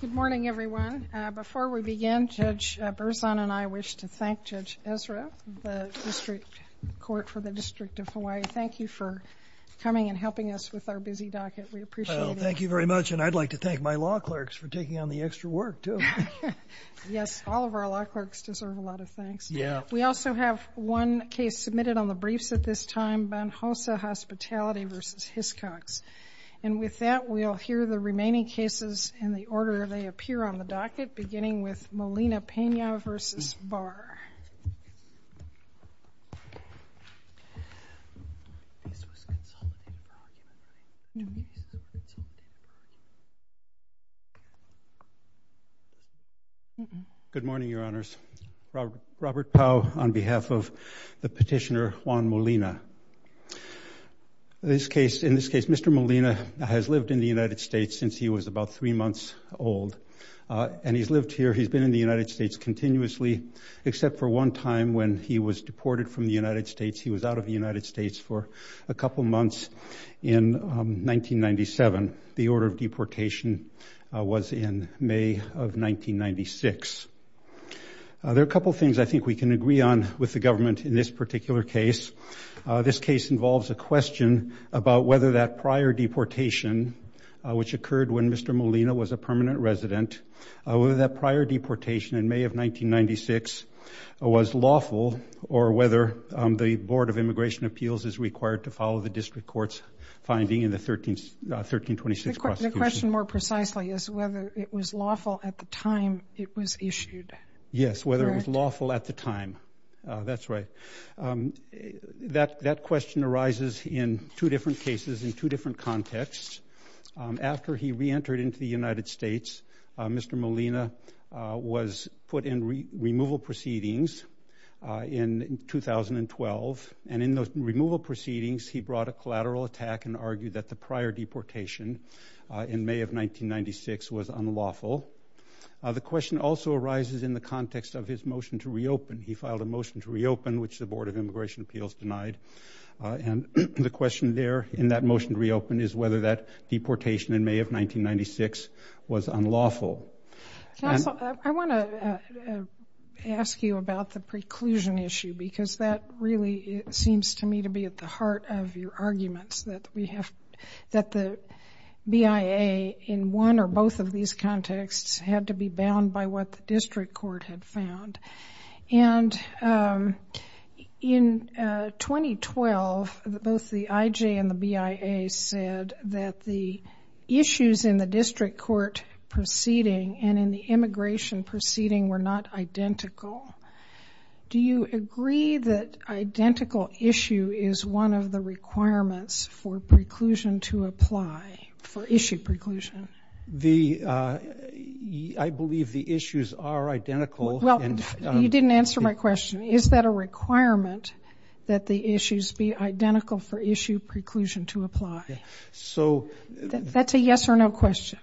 Good morning everyone. Before we begin, Judge Berzon and I wish to thank Judge Ezra, the district court for the District of Hawaii. Thank you for coming and helping us with our busy docket. We appreciate it. Thank you very much and I'd like to thank my law clerks for taking on the extra work too. Yes, all of our law clerks deserve a lot of thanks. Yeah. We also have one case submitted on the briefs at this time, Banhosa Hospitality v. Hiscox, and with that we'll hear the cases in the order they appear on the docket, beginning with Molina-Pena v. Barr. Good morning, Your Honors. Robert Powell on behalf of the petitioner Juan Molina. In this case, Mr. Molina has lived in the United States since he was about three months old. And he's lived here, he's been in the United States continuously, except for one time when he was deported from the United States. He was out of the United States for a couple months in 1997. The order of deportation was in May of 1996. There are a couple things I think we can agree on with the government in this particular case. This case involves a question about whether that prior deportation, which occurred when Mr. Molina was a permanent resident, whether that prior deportation in May of 1996 was lawful, or whether the Board of Immigration Appeals is required to follow the district court's finding in the 1326 prosecution. The question more precisely is whether it was lawful at the time it was issued. Yes, whether it was lawful at the time. That's right. That question arises in two different cases in two different contexts. After he re-entered into the United States, Mr. Molina was put in removal proceedings in 2012. And in those removal proceedings, he brought a collateral attack and argued that the prior deportation in May of 1996 was unlawful. The question also arises in the context of his motion to reopen. He filed a motion to reopen, which the Board of Immigration Appeals denied. And the question there, in that motion to reopen, is whether that deportation in May of 1996 was unlawful. Counsel, I want to ask you about the preclusion issue, because that really seems to me to be at the heart of your arguments, that we have, that the BIA in one or both of these contexts had to be bound by what the district court had said. And in 2012, both the IJ and the BIA said that the issues in the district court proceeding and in the immigration proceeding were not identical. Do you agree that identical issue is one of the requirements for preclusion to apply, for You didn't answer my question. Is that a requirement that the issues be identical for issue preclusion to apply? So that's a yes or no question.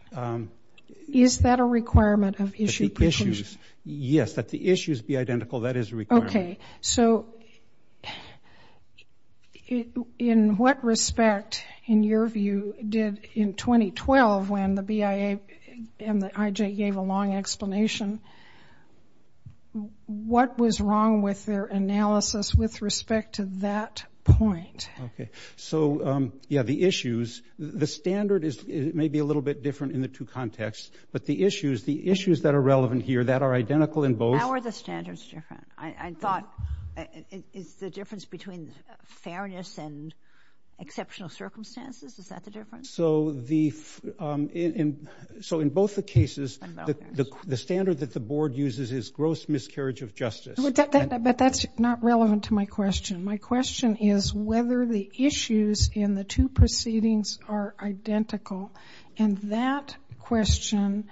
Is that a requirement of issue preclusion? Yes, that the issues be identical, that is required. Okay. So in what respect, in your view, did in 2012, when the BIA and what was wrong with their analysis with respect to that point? Okay. So yeah, the issues, the standard is maybe a little bit different in the two contexts, but the issues, the issues that are relevant here that are identical in both. How are the standards different? I thought it's the difference between fairness and exceptional circumstances. Is that the difference? So in both the cases, the standard that the board uses is gross miscarriage of justice. But that's not relevant to my question. My question is whether the issues in the two proceedings are identical. And that question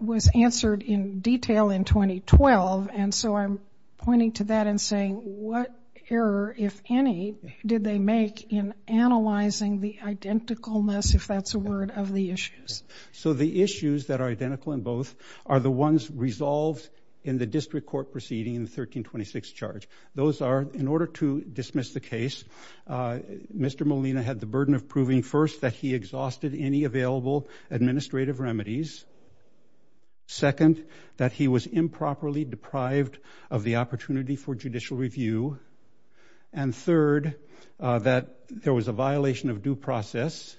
was answered in detail in 2012. And so I'm pointing to that and saying, what error, if any, did they make in analyzing the identicalness, if that's a word, of the issues? So the issues that are identical in both are the ones resolved in the district court proceeding in the 1326 charge. Those are, in order to dismiss the case, Mr. Molina had the burden of proving, first, that he exhausted any available administrative remedies. Second, that he was improperly deprived of the opportunity for judicial review. And third, that there was a violation of due process.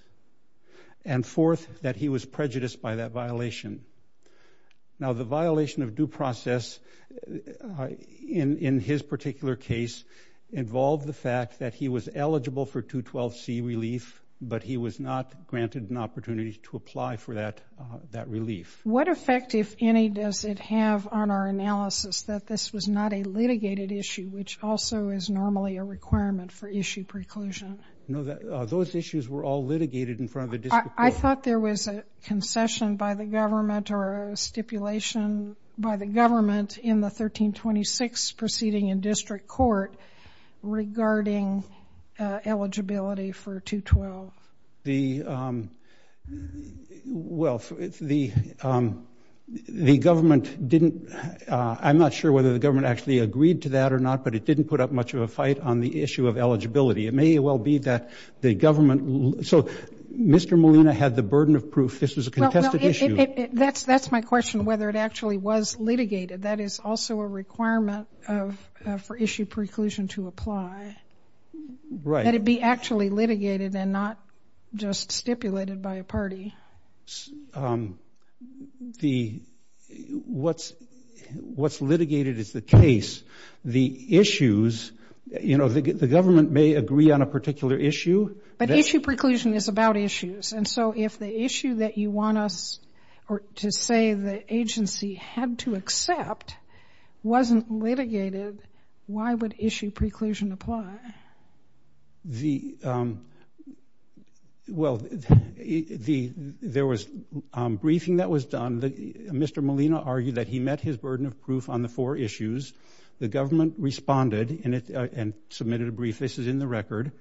And fourth, that he was prejudiced by that violation. Now, the violation of due process in his particular case involved the fact that he was eligible for 212C relief, but he was not granted an opportunity to apply for that relief. What effect, if any, does it have on our analysis that this was not a litigated issue, which also is normally a requirement for issue preclusion? No, those issues were all concessioned by the government or a stipulation by the government in the 1326 proceeding in district court regarding eligibility for 212. The, well, the government didn't, I'm not sure whether the government actually agreed to that or not, but it didn't put up much of a fight on the issue of eligibility. It may well be that the government, so Mr. Molina had the burden of proof this was a contested issue. That's, that's my question, whether it actually was litigated. That is also a requirement of, for issue preclusion to apply. Right. That it be actually litigated and not just stipulated by a party. The, what's, what's litigated is the case. The issues, you know, the, the government may agree on a particular issue. But issue preclusion is about issues. And so if the issue that you want us, or to say the agency had to accept wasn't litigated, why would issue preclusion apply? The, well, the, there was briefing that was done. Mr. Molina argued that he met his burden of proof on the four issues. The government responded and it, and submitted a brief. This is in the record.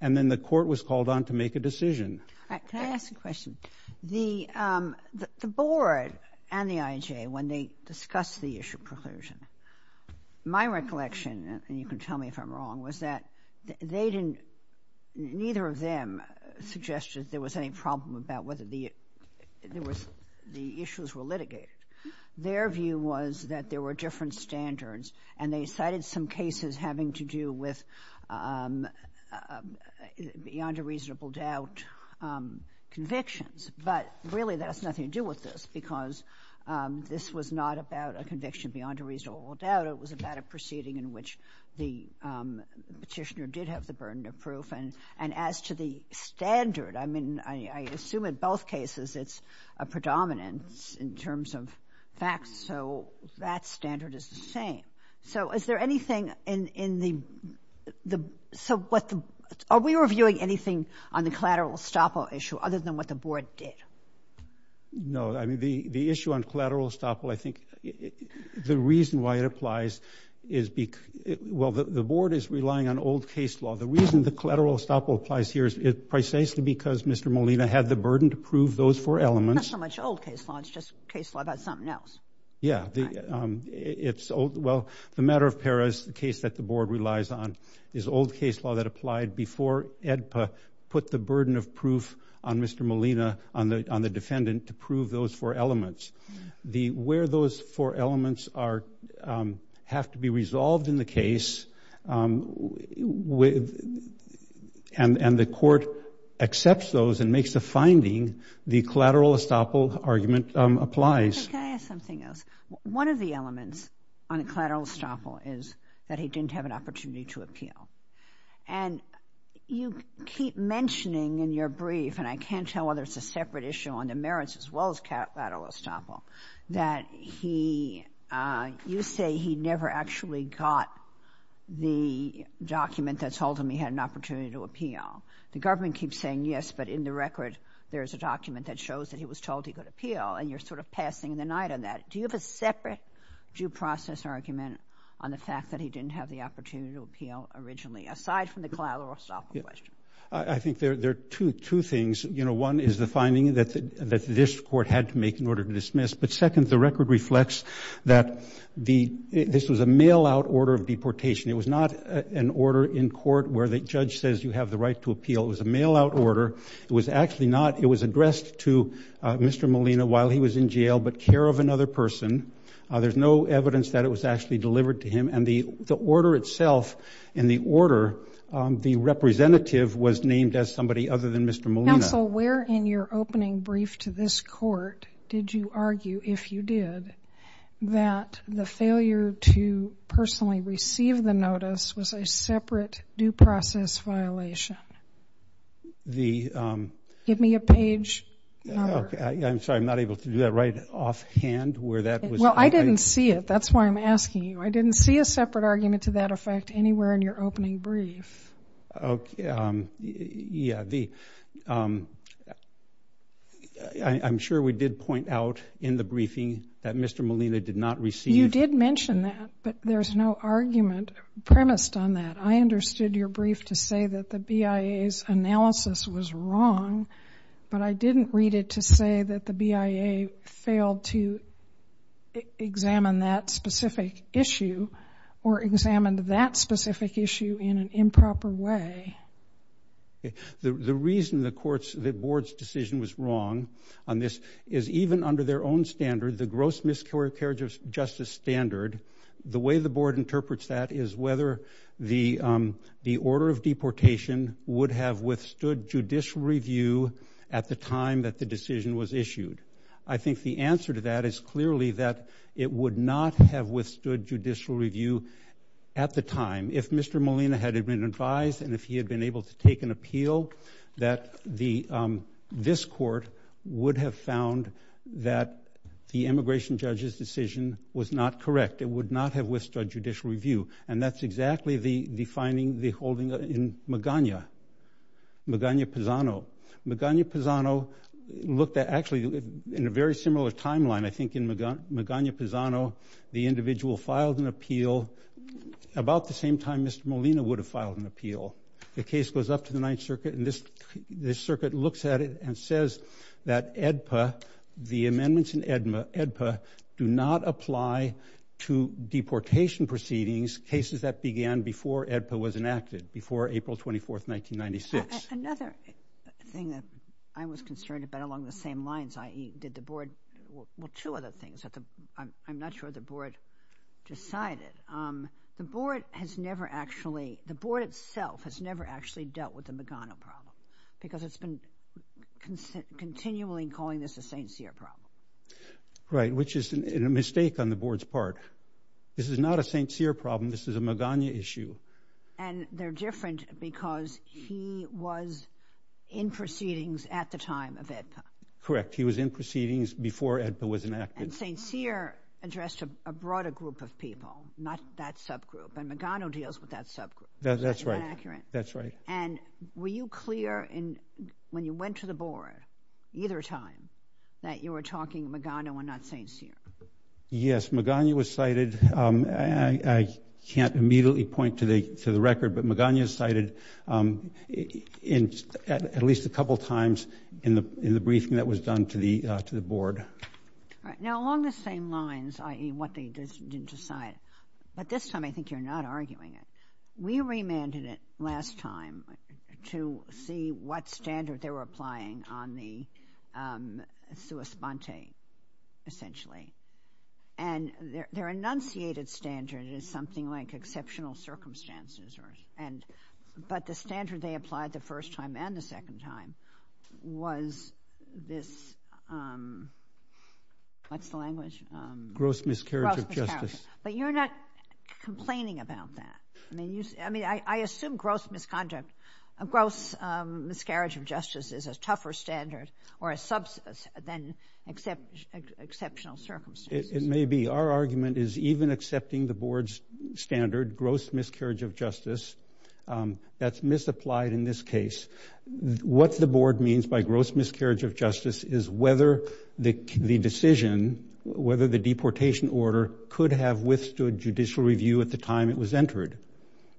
And then the court was called on to make a decision. Can I ask a question? The, the board and the IJA, when they discussed the issue preclusion, my recollection, and you can tell me if I'm wrong, was that they didn't, neither of them suggested there was any problem about whether the, there was, the issues were litigated. Their view was that there were different standards. And they cited some cases having to do with beyond a reasonable doubt convictions. But really, that has nothing to do with this, because this was not about a conviction beyond a reasonable doubt. It was about a proceeding in which the Petitioner did have the burden of proof. And, and as to the standard, I mean, I, I assume in both cases it's a predominance in terms of facts. So that standard is the same. So is there anything in, in the, the, so what the, are we reviewing anything on the collateral estoppel issue other than what the board did? No, I mean, the, the issue on collateral estoppel, I think, the reason why it applies is because, well, the, the board is relying on old case law. The reason the collateral estoppel applies here is precisely because Mr. Molina had the burden to prove those four elements. It's not so much old case law, it's just old case law about something else. Yeah, the, it's old, well, the matter of Paris, the case that the board relies on, is old case law that applied before AEDPA put the burden of proof on Mr. Molina, on the, on the defendant to prove those four elements. The, where those four elements are, have to be resolved in the case with, and, and the court accepts those and makes a finding, the case. Can I ask something else? One of the elements on collateral estoppel is that he didn't have an opportunity to appeal. And you keep mentioning in your brief, and I can't tell whether it's a separate issue on the merits as well as collateral estoppel, that he, you say he never actually got the document that told him he had an opportunity to appeal. The government keeps saying yes, but in the record, there's a document that shows that he was told he could appeal, and you're sort of passing the night on that. Do you have a separate due process argument on the fact that he didn't have the opportunity to appeal originally, aside from the collateral estoppel question? I, I think there, there are two, two things. You know, one is the finding that, that this court had to make in order to dismiss. But second, the record reflects that the, this was a mail-out order of deportation. It was not an order in court where the judge says you have the right to appeal. It was a mail-out order. It was actually not, it was addressed to Mr. Molina while he was in jail, but care of another person. There's no evidence that it was actually delivered to him, and the, the order itself, in the order, the representative was named as somebody other than Mr. Molina. Counsel, where in your opening brief to this court did you argue, if you did, that the failure to personally receive the notice was a separate due process violation? The... Give me a page number. I'm sorry, I'm not able to do that right offhand where that was... Well, I didn't see it. That's why I'm asking you. I didn't see a separate argument to that effect anywhere in your opening brief. Okay, yeah, the, I'm sure we did point out in the briefing that Mr. Molina did not receive... You did mention that, but there's no argument premised on that. I understood your brief to say that the BIA's analysis was wrong, but I didn't read it to say that the BIA failed to examine that specific issue or examined that specific issue in an improper way. The reason the court's, the board's decision was wrong on this is even under their own standard, the gross miscarriage of justice standard, the way the board interprets that is whether the the order of deportation would have withstood judicial review at the time that the decision was issued. I think the answer to that is clearly that it would not have withstood judicial review at the time. If Mr. Molina had been advised and if he had been able to take an appeal, that the, this court would have found that the immigration judge's judicial review, and that's exactly the defining, the holding in Magana, Magana Pizano. Magana Pizano looked at, actually in a very similar timeline, I think in Magana Pizano, the individual filed an appeal about the same time Mr. Molina would have filed an appeal. The case goes up to the Ninth Circuit and this, this circuit looks at it and says that AEDPA, the amendments in AEDPA do not apply to deportation proceedings, cases that began before AEDPA was enacted, before April 24th, 1996. Another thing that I was concerned about along the same lines, i.e. did the board, well two other things that I'm not sure the board decided. The board has never actually, the board itself has never actually dealt with the Magana problem because it's been continually calling this a St. Cyr problem. Right, which is a mistake on the board's part. This is not a St. Cyr problem, this is a Magana issue. And they're different because he was in proceedings at the time of AEDPA. Correct, he was in proceedings before AEDPA was enacted. And St. Cyr addressed a broader group of people, not that subgroup, and Magana deals with that subgroup. That's right. That's right. And were you clear in, when you went to the board, either time, that you were talking Magana and not St. Cyr? Yes, Magana was cited, I can't immediately point to the, to the record, but Magana is cited in at least a couple times in the, in the briefing that was done to the, to the board. Now along the same lines, i.e. what they didn't decide, but this time I think you're not last time, to see what standard they were applying on the sua sponte, essentially. And their, their enunciated standard is something like exceptional circumstances or, and, but the standard they applied the first time and the second time was this, what's the language? Gross miscarriage of justice. But you're not complaining about that. I mean, you, I mean, I, I assume gross misconduct, a gross miscarriage of justice is a tougher standard or a sub, than except, exceptional circumstances. It may be. Our argument is even accepting the board's standard, gross miscarriage of justice, that's misapplied in this case. What the board means by gross miscarriage of justice is whether the, the decision, whether the deportation order could have withstood judicial review at the time it was entered.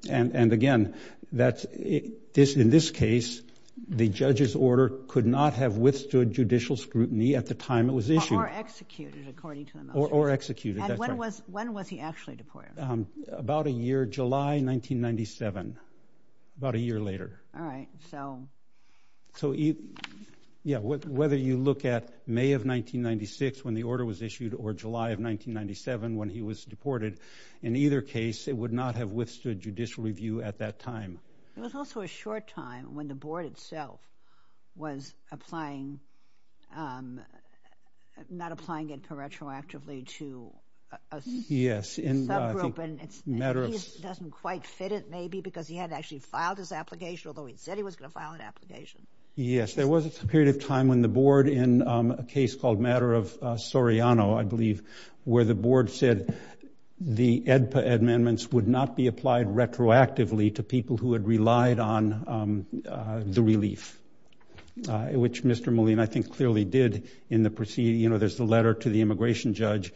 And, and again, that's it, this, in this case, the judge's order could not have withstood judicial scrutiny at the time it was issued. Or executed, according to them. Or, or executed, that's right. And when was, when was he actually deported? About a year, July 1997, about a year later. All right, so. So you, yeah, whether you look at May of 1996, when the order was issued, or July of 1997, when he was deported, in either case, it would not have withstood judicial review at that time. It was also a short time when the board itself was applying, not applying it paratroactively to a subgroup. Yes, and I think, matter of. He doesn't quite fit it, maybe, because he hadn't actually filed his application, although he said he was going to file an application. Yes, there was a period of time when the board, in a case called matter of Soriano, I believe, where the board said the AEDPA amendments would not be applied retroactively to people who had relied on the relief. Which Mr. Moline, I think, clearly did in the proceeding. You know, there's the letter to the immigration judge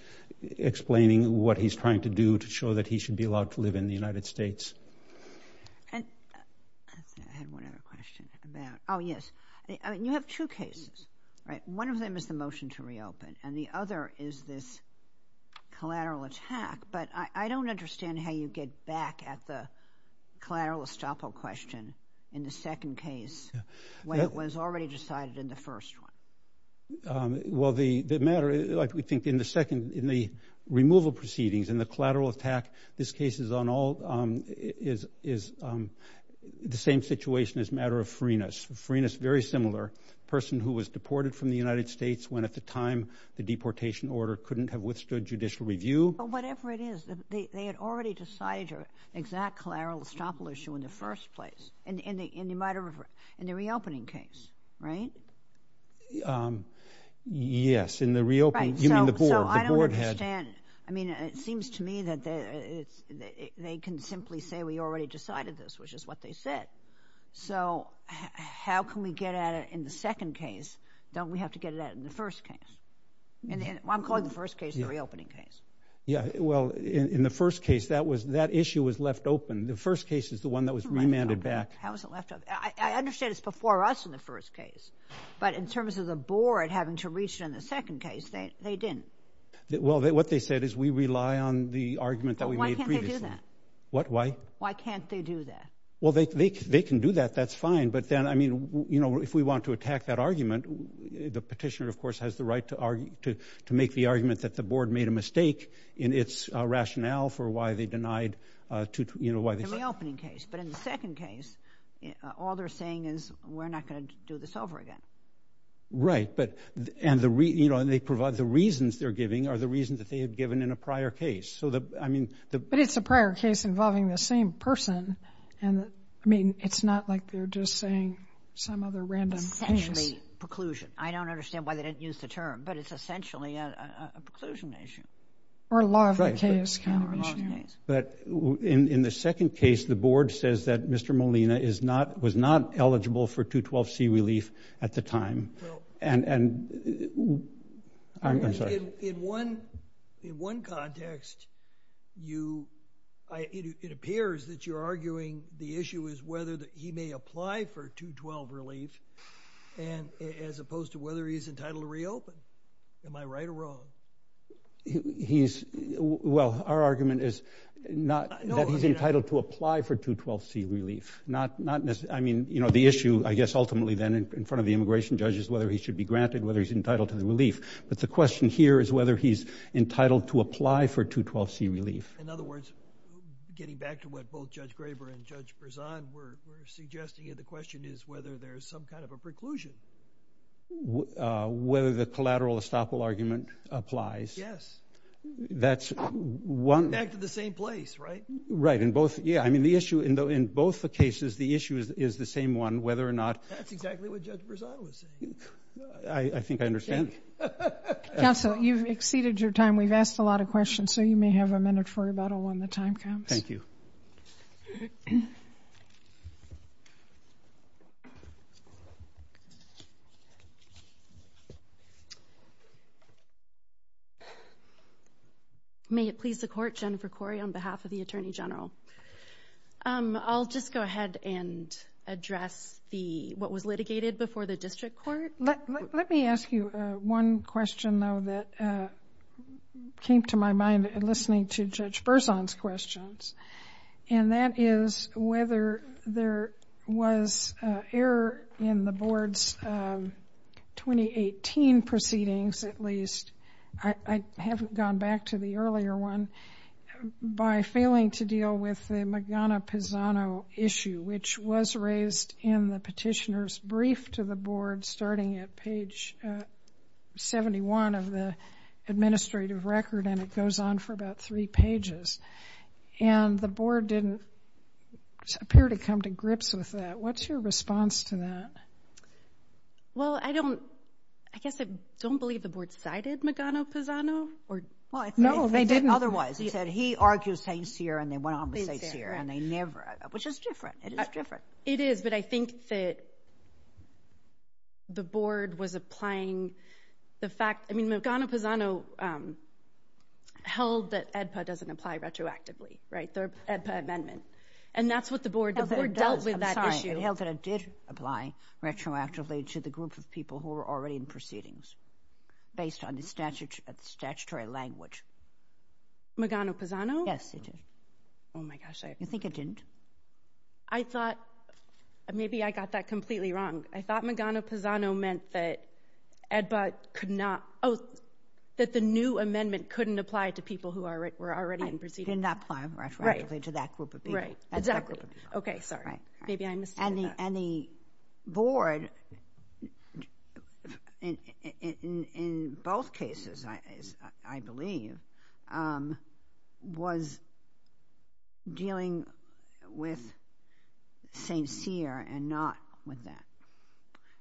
explaining what he's trying to do to ensure that he should be allowed to live in the United States. I had one other question. Oh, yes. You have two cases, right? One of them is the motion to reopen, and the other is this collateral attack, but I don't understand how you get back at the collateral estoppel question in the second case, when it was already decided in the first one. Well, the matter, like we think, in the second, in the removal proceedings, in the this case is on all, is the same situation as matter of Farinas. Farinas, very similar, person who was deported from the United States when, at the time, the deportation order couldn't have withstood judicial review. But whatever it is, they had already decided your exact collateral estoppel issue in the first place, in the matter of, in the reopening case, right? Yes, in the reopening, you mean the board. So I don't understand. I mean, it seems to me that they can simply say we already decided this, which is what they said. So how can we get at it in the second case? Don't we have to get it out in the first case? I'm calling the first case the reopening case. Yeah, well, in the first case, that was, that issue was left open. The first case is the one that was remanded back. How was it left open? I understand it's before us in the first case, but in terms of the board having to reach it in the second case, they didn't. Well, what they said is we rely on the argument that we made previously. But why can't they do that? What, why? Why can't they do that? Well, they can do that. That's fine. But then, I mean, you know, if we want to attack that argument, the petitioner, of course, has the right to make the argument that the board made a mistake in its rationale for why they denied to, you know, why they said. In the reopening case. But in the second case, all they're saying is we're not going to do this over again. Right. But, and the reason, you know, and they provide the reasons they're giving are the reasons that they had given in a prior case. So, I mean. But it's a prior case involving the same person. And I mean, it's not like they're just saying some other random. Essentially, preclusion. I don't understand why they didn't use the term, but it's essentially a preclusion issue. Or a law of the case kind of issue. But in the second case, the board says that Mr. Molina is not, was not eligible for 212C relief at the time. And in one context, you, it appears that you're arguing the issue is whether he may apply for 212 relief as opposed to whether he's entitled to reopen. He's, well, our argument is not that he's entitled to apply for 212C relief. Not, not, I mean, you know, the issue, I guess, ultimately then in front of the immigration judges, whether he should be granted, whether he's entitled to the relief. But the question here is whether he's entitled to apply for 212C relief. In other words, getting back to what both Judge Graber and Judge Berzan were suggesting, the question is whether there's some kind of a preclusion. Whether the collateral estoppel argument applies. Yes. That's one. Back to the same place, right? Right. In both, yeah, I mean, the issue in both the cases, the issue is the same one, whether or not. That's exactly what Judge Berzan was saying. I think I understand. Counsel, you've exceeded your time. We've asked a lot of questions, so you may have a minute for rebuttal when the time comes. Thank you. Thank you. May it please the Court, Jennifer Corey on behalf of the Attorney General. I'll just go ahead and address the, what was litigated before the district court. Let me ask you one question, though, that came to my mind listening to Judge Berzan's questions. And that is whether there was error in the board's 2018 proceedings, at least. I haven't gone back to the earlier one. By failing to deal with the Magana-Pisano issue, which was raised in the petitioner's brief to the board starting at page 71 of the administrative record. And it goes on for about three pages. And the board didn't appear to come to grips with that. What's your response to that? Well, I don't, I guess I don't believe the board cited Magana-Pisano. No, they didn't. Otherwise, he said he argues St. Cyr, and they went on with St. Cyr, and they never, which is different. It is different. It is, but I think that the board was applying the fact. I mean, Magana-Pisano held that AEDPA doesn't apply retroactively, right, the AEDPA amendment. And that's what the board did. The board dealt with that issue. I'm sorry. It held that it did apply retroactively to the group of people who were already in proceedings based on the statutory language. Magana-Pisano? Yes, it did. Oh, my gosh. You think it didn't? I thought, maybe I got that completely wrong. I thought Magana-Pisano meant that AEDPA could not, oh, that the new amendment couldn't apply to people who were already in proceedings. It did not apply retroactively to that group of people. Right, exactly. Okay, sorry. Maybe I misstated that. And the board, in both cases, I believe, was dealing with St. Cyr and not with that.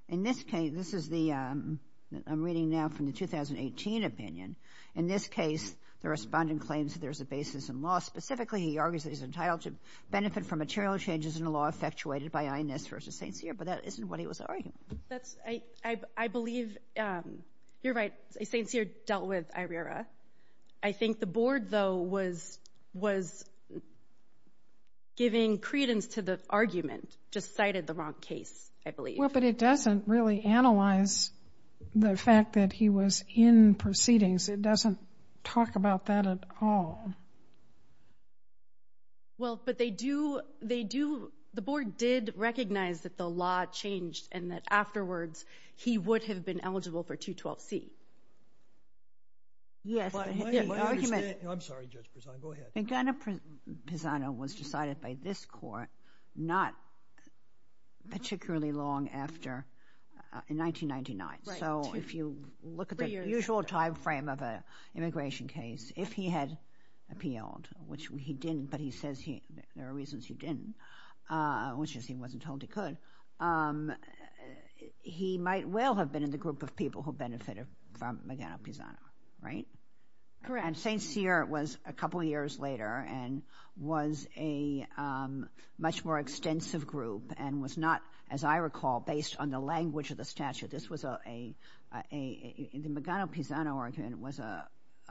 In this case, this is the, I'm reading now from the 2018 opinion. In this case, the respondent claims there's a basis in law. Specifically, he argues that he's entitled to benefit from material changes in the law effectuated by INS versus St. Cyr. But that isn't what he was arguing. I believe you're right. St. Cyr dealt with IRERA. I think the board, though, was giving credence to the argument, just cited the wrong case, I believe. Well, but it doesn't really analyze the fact that he was in proceedings. It doesn't talk about that at all. Well, but they do, the board did recognize that the law changed and that afterwards he would have been eligible for 212C. Yes, but the argument. I'm sorry, Judge Pisano. Go ahead. Pisano was decided by this court not particularly long after, in 1999. Right. If you look at the usual time frame of an immigration case, if he had appealed, which he didn't, but he says there are reasons he didn't, which is he wasn't told he could, he might well have been in the group of people who benefited from Magano-Pisano, right? Correct. And St. Cyr was a couple years later and was a much more extensive group and was not, as I recall, based on the language of the statute. This was a, the Magano-Pisano argument was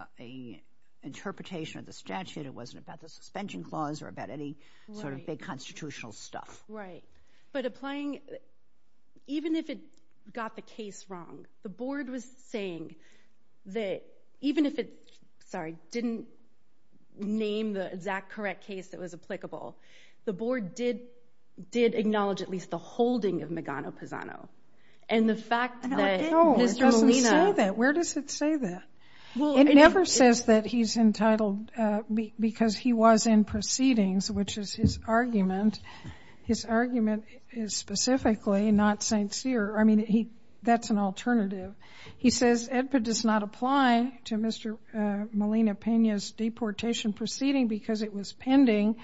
an interpretation of the statute. It wasn't about the suspension clause or about any sort of big constitutional stuff. Right. But applying, even if it got the case wrong, the board was saying that even if it, sorry, didn't name the exact correct case that was applicable, the board did acknowledge at least the holding of Magano-Pisano. And the fact that Mr. Molina- No, it doesn't say that. Where does it say that? It never says that he's entitled because he was in proceedings, which is his argument. His argument is specifically not St. Cyr. I mean, that's an alternative. He says EDPA does not apply to Mr. Molina-Pena's deportation proceeding because it was pending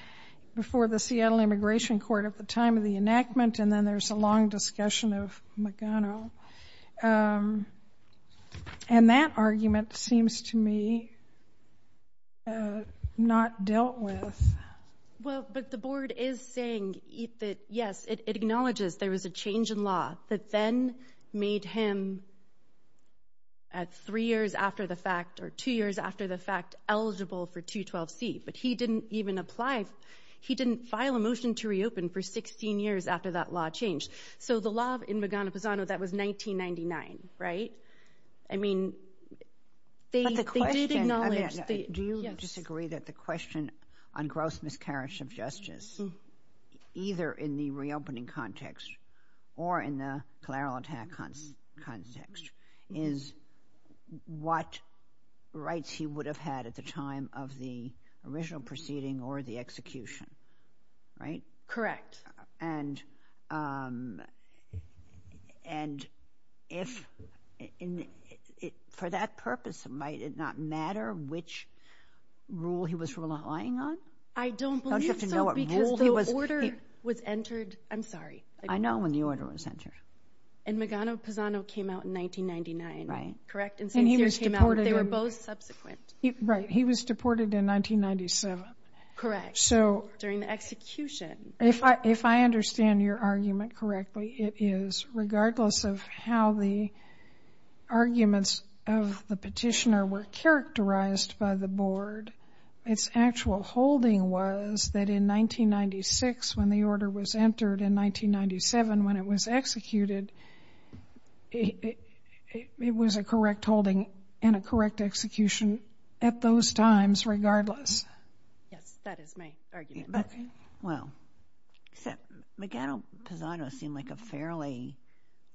before the Seattle Immigration Court at the time of the enactment, and then there's a long discussion of Magano. And that argument seems to me not dealt with. Well, but the board is saying that, yes, it acknowledges there was a change in law that then made him at three years after the fact or two years after the fact eligible for 212C. But he didn't even apply. He didn't file a motion to reopen for 16 years after that law changed. So the law in Magano-Pisano, that was 1999, right? I mean, they did acknowledge- Do you disagree that the question on gross miscarriage of justice, either in the reopening context or in the collateral attack context, is what rights he would have had at the time of the original proceeding or the execution, right? Correct. And for that purpose, might it not matter which rule he was relying on? I don't believe so because the order was entered- I'm sorry. I know when the order was entered. And Magano-Pisano came out in 1999, correct? And he was deported- They were both subsequent. Right. He was deported in 1997. Correct. So- During the execution. If I understand your argument correctly, it is regardless of how the arguments of the petitioner were characterized by the board, its actual holding was that in 1996, when the order was entered, in 1997, when it was executed, it was a correct holding and a correct execution at those times regardless. Yes, that is my argument. But, well, Magano-Pisano seemed like a fairly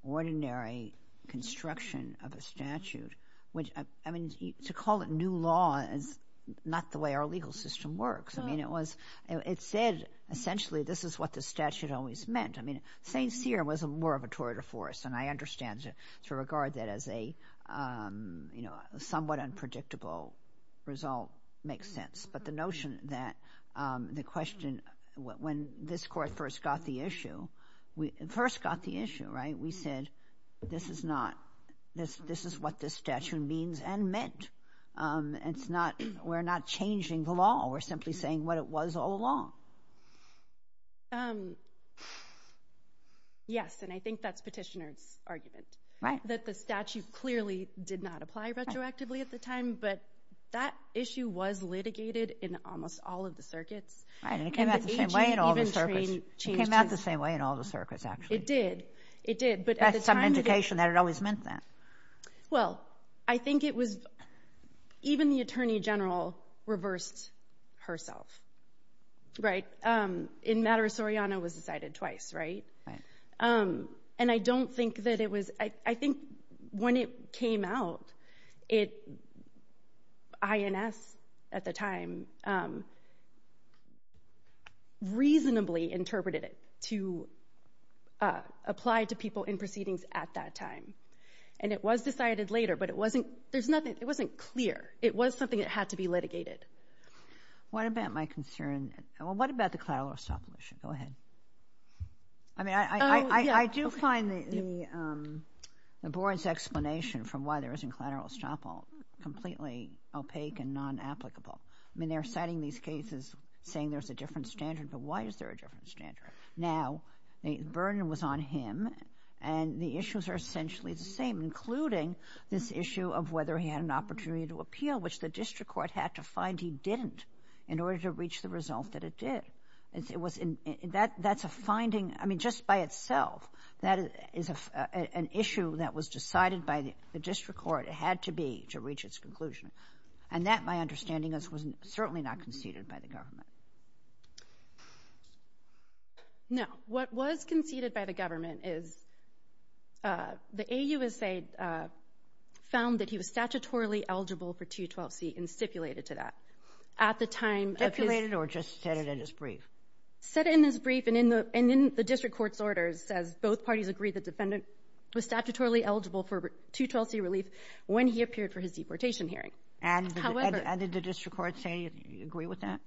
ordinary construction of a statute, which, I mean, to call it new law is not the way our legal system works. I mean, it said essentially this is what the statute always meant. I mean, St. Cyr was more of a tour de force, and I understand to regard that as a somewhat unpredictable result makes sense. But the notion that the question, when this court first got the issue, first got the issue, right? We said this is not, this is what this statute means and meant. It's not, we're not changing the law. We're simply saying what it was all along. Yes, and I think that's petitioner's argument. Right. I understand that the statute clearly did not apply retroactively at the time, but that issue was litigated in almost all of the circuits. Right, and it came out the same way in all the circuits. It came out the same way in all the circuits, actually. It did, it did, but at the time it didn't. That's some indication that it always meant that. Well, I think it was, even the Attorney General reversed herself, right? In matter Soriano was decided twice, right? Right. And I don't think that it was, I think when it came out, it, INS at the time reasonably interpreted it to apply to people in proceedings at that time. And it was decided later, but it wasn't, there's nothing, it wasn't clear. It was something that had to be litigated. What about my concern, well, what about the cloud law stop motion? Go ahead. I mean, I do find the board's explanation for why there isn't cloud law stop completely opaque and non-applicable. I mean, they're citing these cases saying there's a different standard, but why is there a different standard? Now, the burden was on him, and the issues are essentially the same, including this issue of whether he had an opportunity to appeal, which the district court had to find he didn't in order to reach the result that it did. It was, that's a finding, I mean, just by itself, that is an issue that was decided by the district court. It had to be to reach its conclusion. And that, my understanding is, was certainly not conceded by the government. No. What was conceded by the government is the AUSA found that he was statutorily eligible for 212C and stipulated to that. Stipulated or just said it in his brief? Said it in his brief, and in the district court's orders says both parties agree the defendant was statutorily eligible for 212C relief when he appeared for his deportation hearing. And did the district court say you agree with that?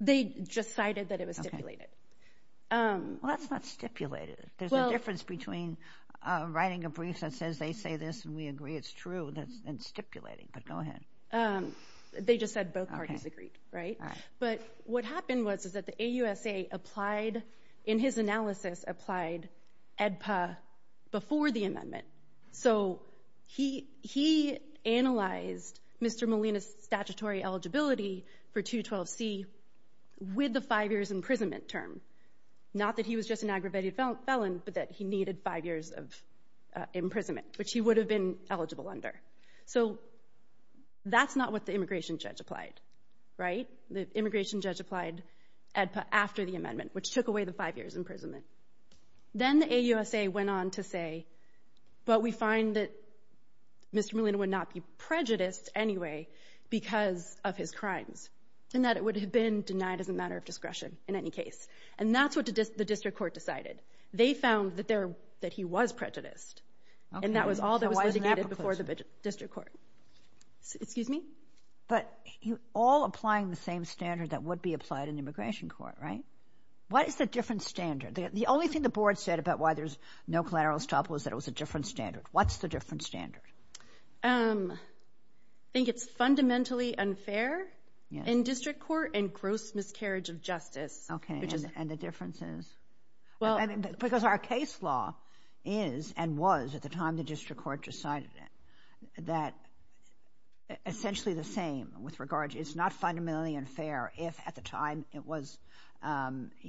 They just cited that it was stipulated. Well, that's not stipulated. There's a difference between writing a brief that says they say this and we agree it's true and stipulating, but go ahead. They just said both parties agreed, right? But what happened was that the AUSA applied, in his analysis, applied AEDPA before the amendment. So he analyzed Mr. Molina's statutory eligibility for 212C with the five years imprisonment term. Not that he was just an aggravated felon, but that he needed five years of imprisonment, which he would have been eligible under. So that's not what the immigration judge applied, right? The immigration judge applied AEDPA after the amendment, which took away the five years imprisonment. Then the AUSA went on to say, but we find that Mr. Molina would not be prejudiced anyway because of his crimes, and that it would have been denied as a matter of discretion in any case. And that's what the district court decided. They found that he was prejudiced. And that was all that was litigated before the district court. Excuse me? But you're all applying the same standard that would be applied in the immigration court, right? What is the different standard? The only thing the board said about why there's no collateral stop was that it was a different standard. What's the different standard? I think it's fundamentally unfair in district court and gross miscarriage of justice. Okay, and the difference is? Because our case law is and was, at the time the district court decided it, that essentially the same with regard to it's not fundamentally unfair if at the time it was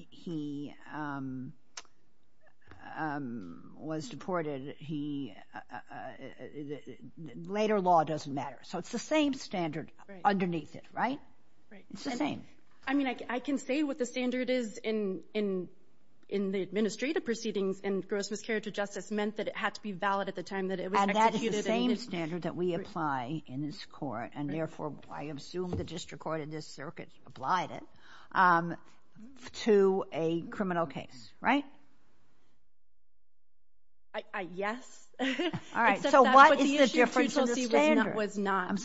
he was deported, later law doesn't matter. So it's the same standard underneath it, right? Right. It's the same. I mean, I can say what the standard is in the administrative proceedings and gross miscarriage of justice meant that it had to be valid at the time that it was executed. And that is the same standard that we apply in this court, and therefore I assume the district court in this circuit applied it, to a criminal case, right? Yes. All right. So what is the difference in the standard? The issue of 212C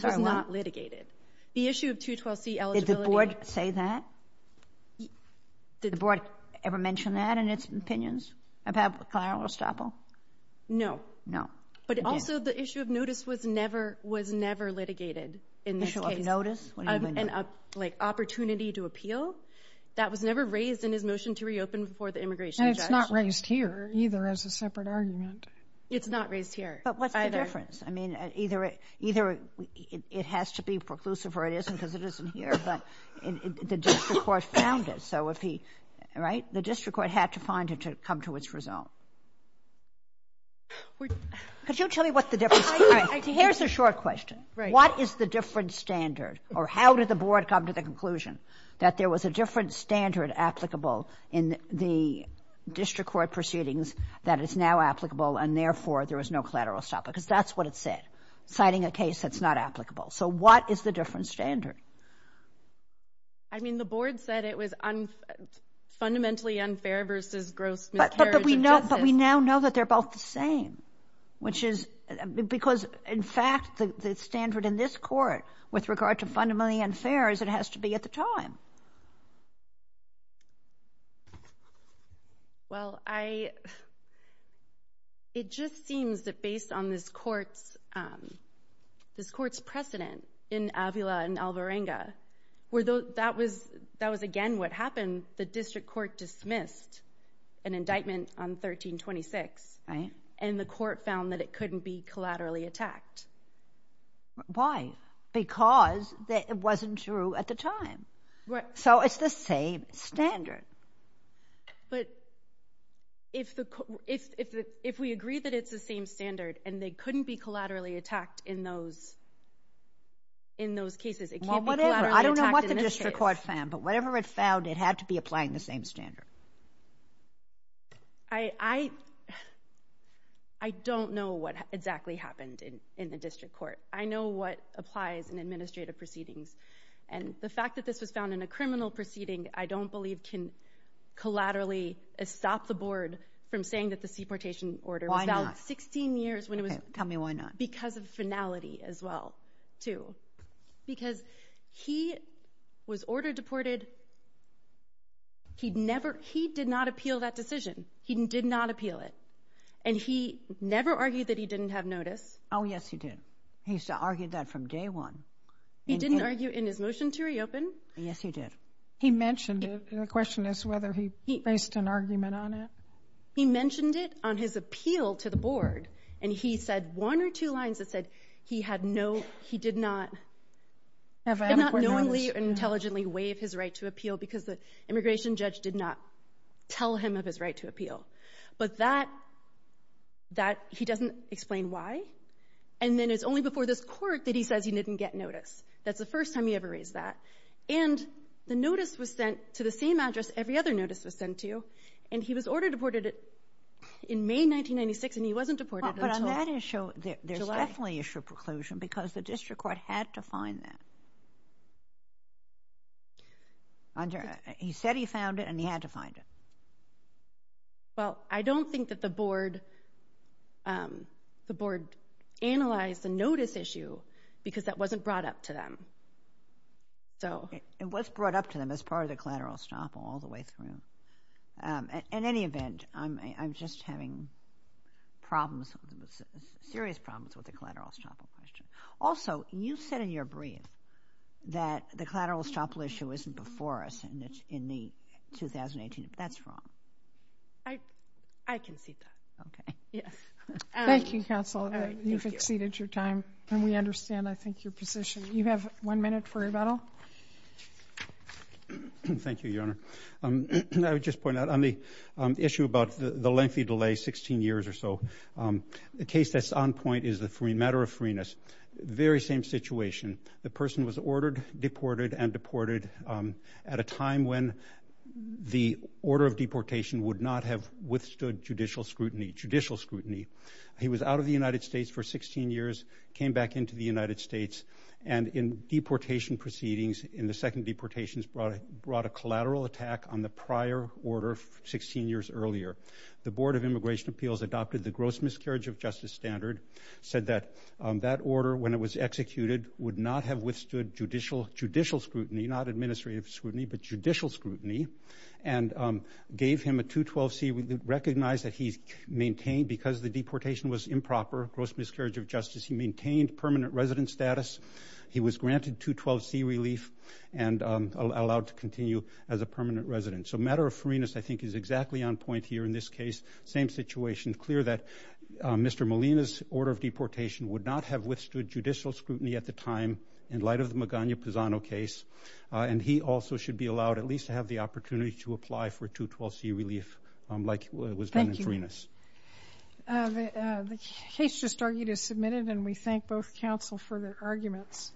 was not litigated. The issue of 212C eligibility. Did the board say that? Did the board ever mention that in its opinions about Clara Ostopel? No. No. But also the issue of notice was never litigated in this case. The issue of notice? Like opportunity to appeal. That was never raised in his motion to reopen before the immigration judge. And it's not raised here either as a separate argument. It's not raised here either. But what's the difference? I mean, either it has to be preclusive or it isn't because it isn't here. But the district court found it. So if he, right? The district court had to find it to come to its result. Could you tell me what the difference is? All right. Here's a short question. What is the different standard, or how did the board come to the conclusion that there was a different standard applicable in the district court proceedings that is now applicable and, therefore, there was no collateral stop? Because that's what it said, citing a case that's not applicable. So what is the different standard? I mean, the board said it was fundamentally unfair versus gross miscarriage of justice. But we now know that they're both the same, which is because, in fact, the standard in this court with regard to fundamentally unfair is it has to be at the time. Well, it just seems that based on this court's precedent in Avila and Alvarenga, that was, again, what happened. The district court dismissed an indictment on 1326, and the court found that it couldn't be collaterally attacked. Why? Because it wasn't true at the time. Right. So it's the same standard. But if we agree that it's the same standard and they couldn't be collaterally attacked in those cases, it can't be collaterally attacked in this case. Well, whatever. I don't know what the district court found, but whatever it found, it had to be applying the same standard. I don't know what exactly happened in the district court. I know what applies in administrative proceedings. And the fact that this was found in a criminal proceeding, I don't believe can collaterally stop the board from saying that the deportation order was valid. Why not? Sixteen years when it was— Tell me why not. Because of finality as well, too. Because he was ordered deported. He did not appeal that decision. He did not appeal it. And he never argued that he didn't have notice. Oh, yes, he did. He used to argue that from day one. He didn't argue in his motion to reopen. Yes, he did. He mentioned it. The question is whether he based an argument on it. He mentioned it on his appeal to the board, and he said one or two lines that said he had no—he did not— Have adequate notice. He did not knowingly or intelligently waive his right to appeal because the immigration judge did not tell him of his right to appeal. But that—he doesn't explain why. And then it's only before this court that he says he didn't get notice. That's the first time he ever raised that. And the notice was sent to the same address every other notice was sent to, and he was ordered deported in May 1996, and he wasn't deported until July. But on that issue, there's definitely issue of preclusion because the district court had to find that. He said he found it, and he had to find it. Well, I don't think that the board analyzed the notice issue because that wasn't brought up to them. It was brought up to them as part of the collateral estoppel all the way through. In any event, I'm just having problems, serious problems, with the collateral estoppel question. Also, you said in your brief that the collateral estoppel issue isn't before us in the 2018, but that's wrong. I can see that. Okay. Yes. Thank you, counsel. You've exceeded your time, and we understand, I think, your position. You have one minute for rebuttal. Thank you, Your Honor. I would just point out on the issue about the lengthy delay, 16 years or so, the case that's on point is the matter of freeness. Very same situation. The person was ordered, deported, and deported at a time when the order of deportation would not have withstood judicial scrutiny. He was out of the United States for 16 years, came back into the United States, and in deportation proceedings in the second deportations brought a collateral attack on the prior order 16 years earlier. The Board of Immigration Appeals adopted the gross miscarriage of justice standard, said that that order, when it was executed, would not have withstood judicial scrutiny, not administrative scrutiny, but judicial scrutiny, and gave him a 212C. We recognize that he's maintained, because the deportation was improper, gross miscarriage of justice, he maintained permanent resident status. He was granted 212C relief and allowed to continue as a permanent resident. So matter of freeness I think is exactly on point here in this case. Same situation. It's clear that Mr. Molina's order of deportation would not have withstood judicial scrutiny at the time in light of the Magana-Pisano case, and he also should be allowed at least to have the opportunity to apply for 212C relief like it was done in freeness. Thank you. The case just argued is submitted, and we thank both counsel for their arguments.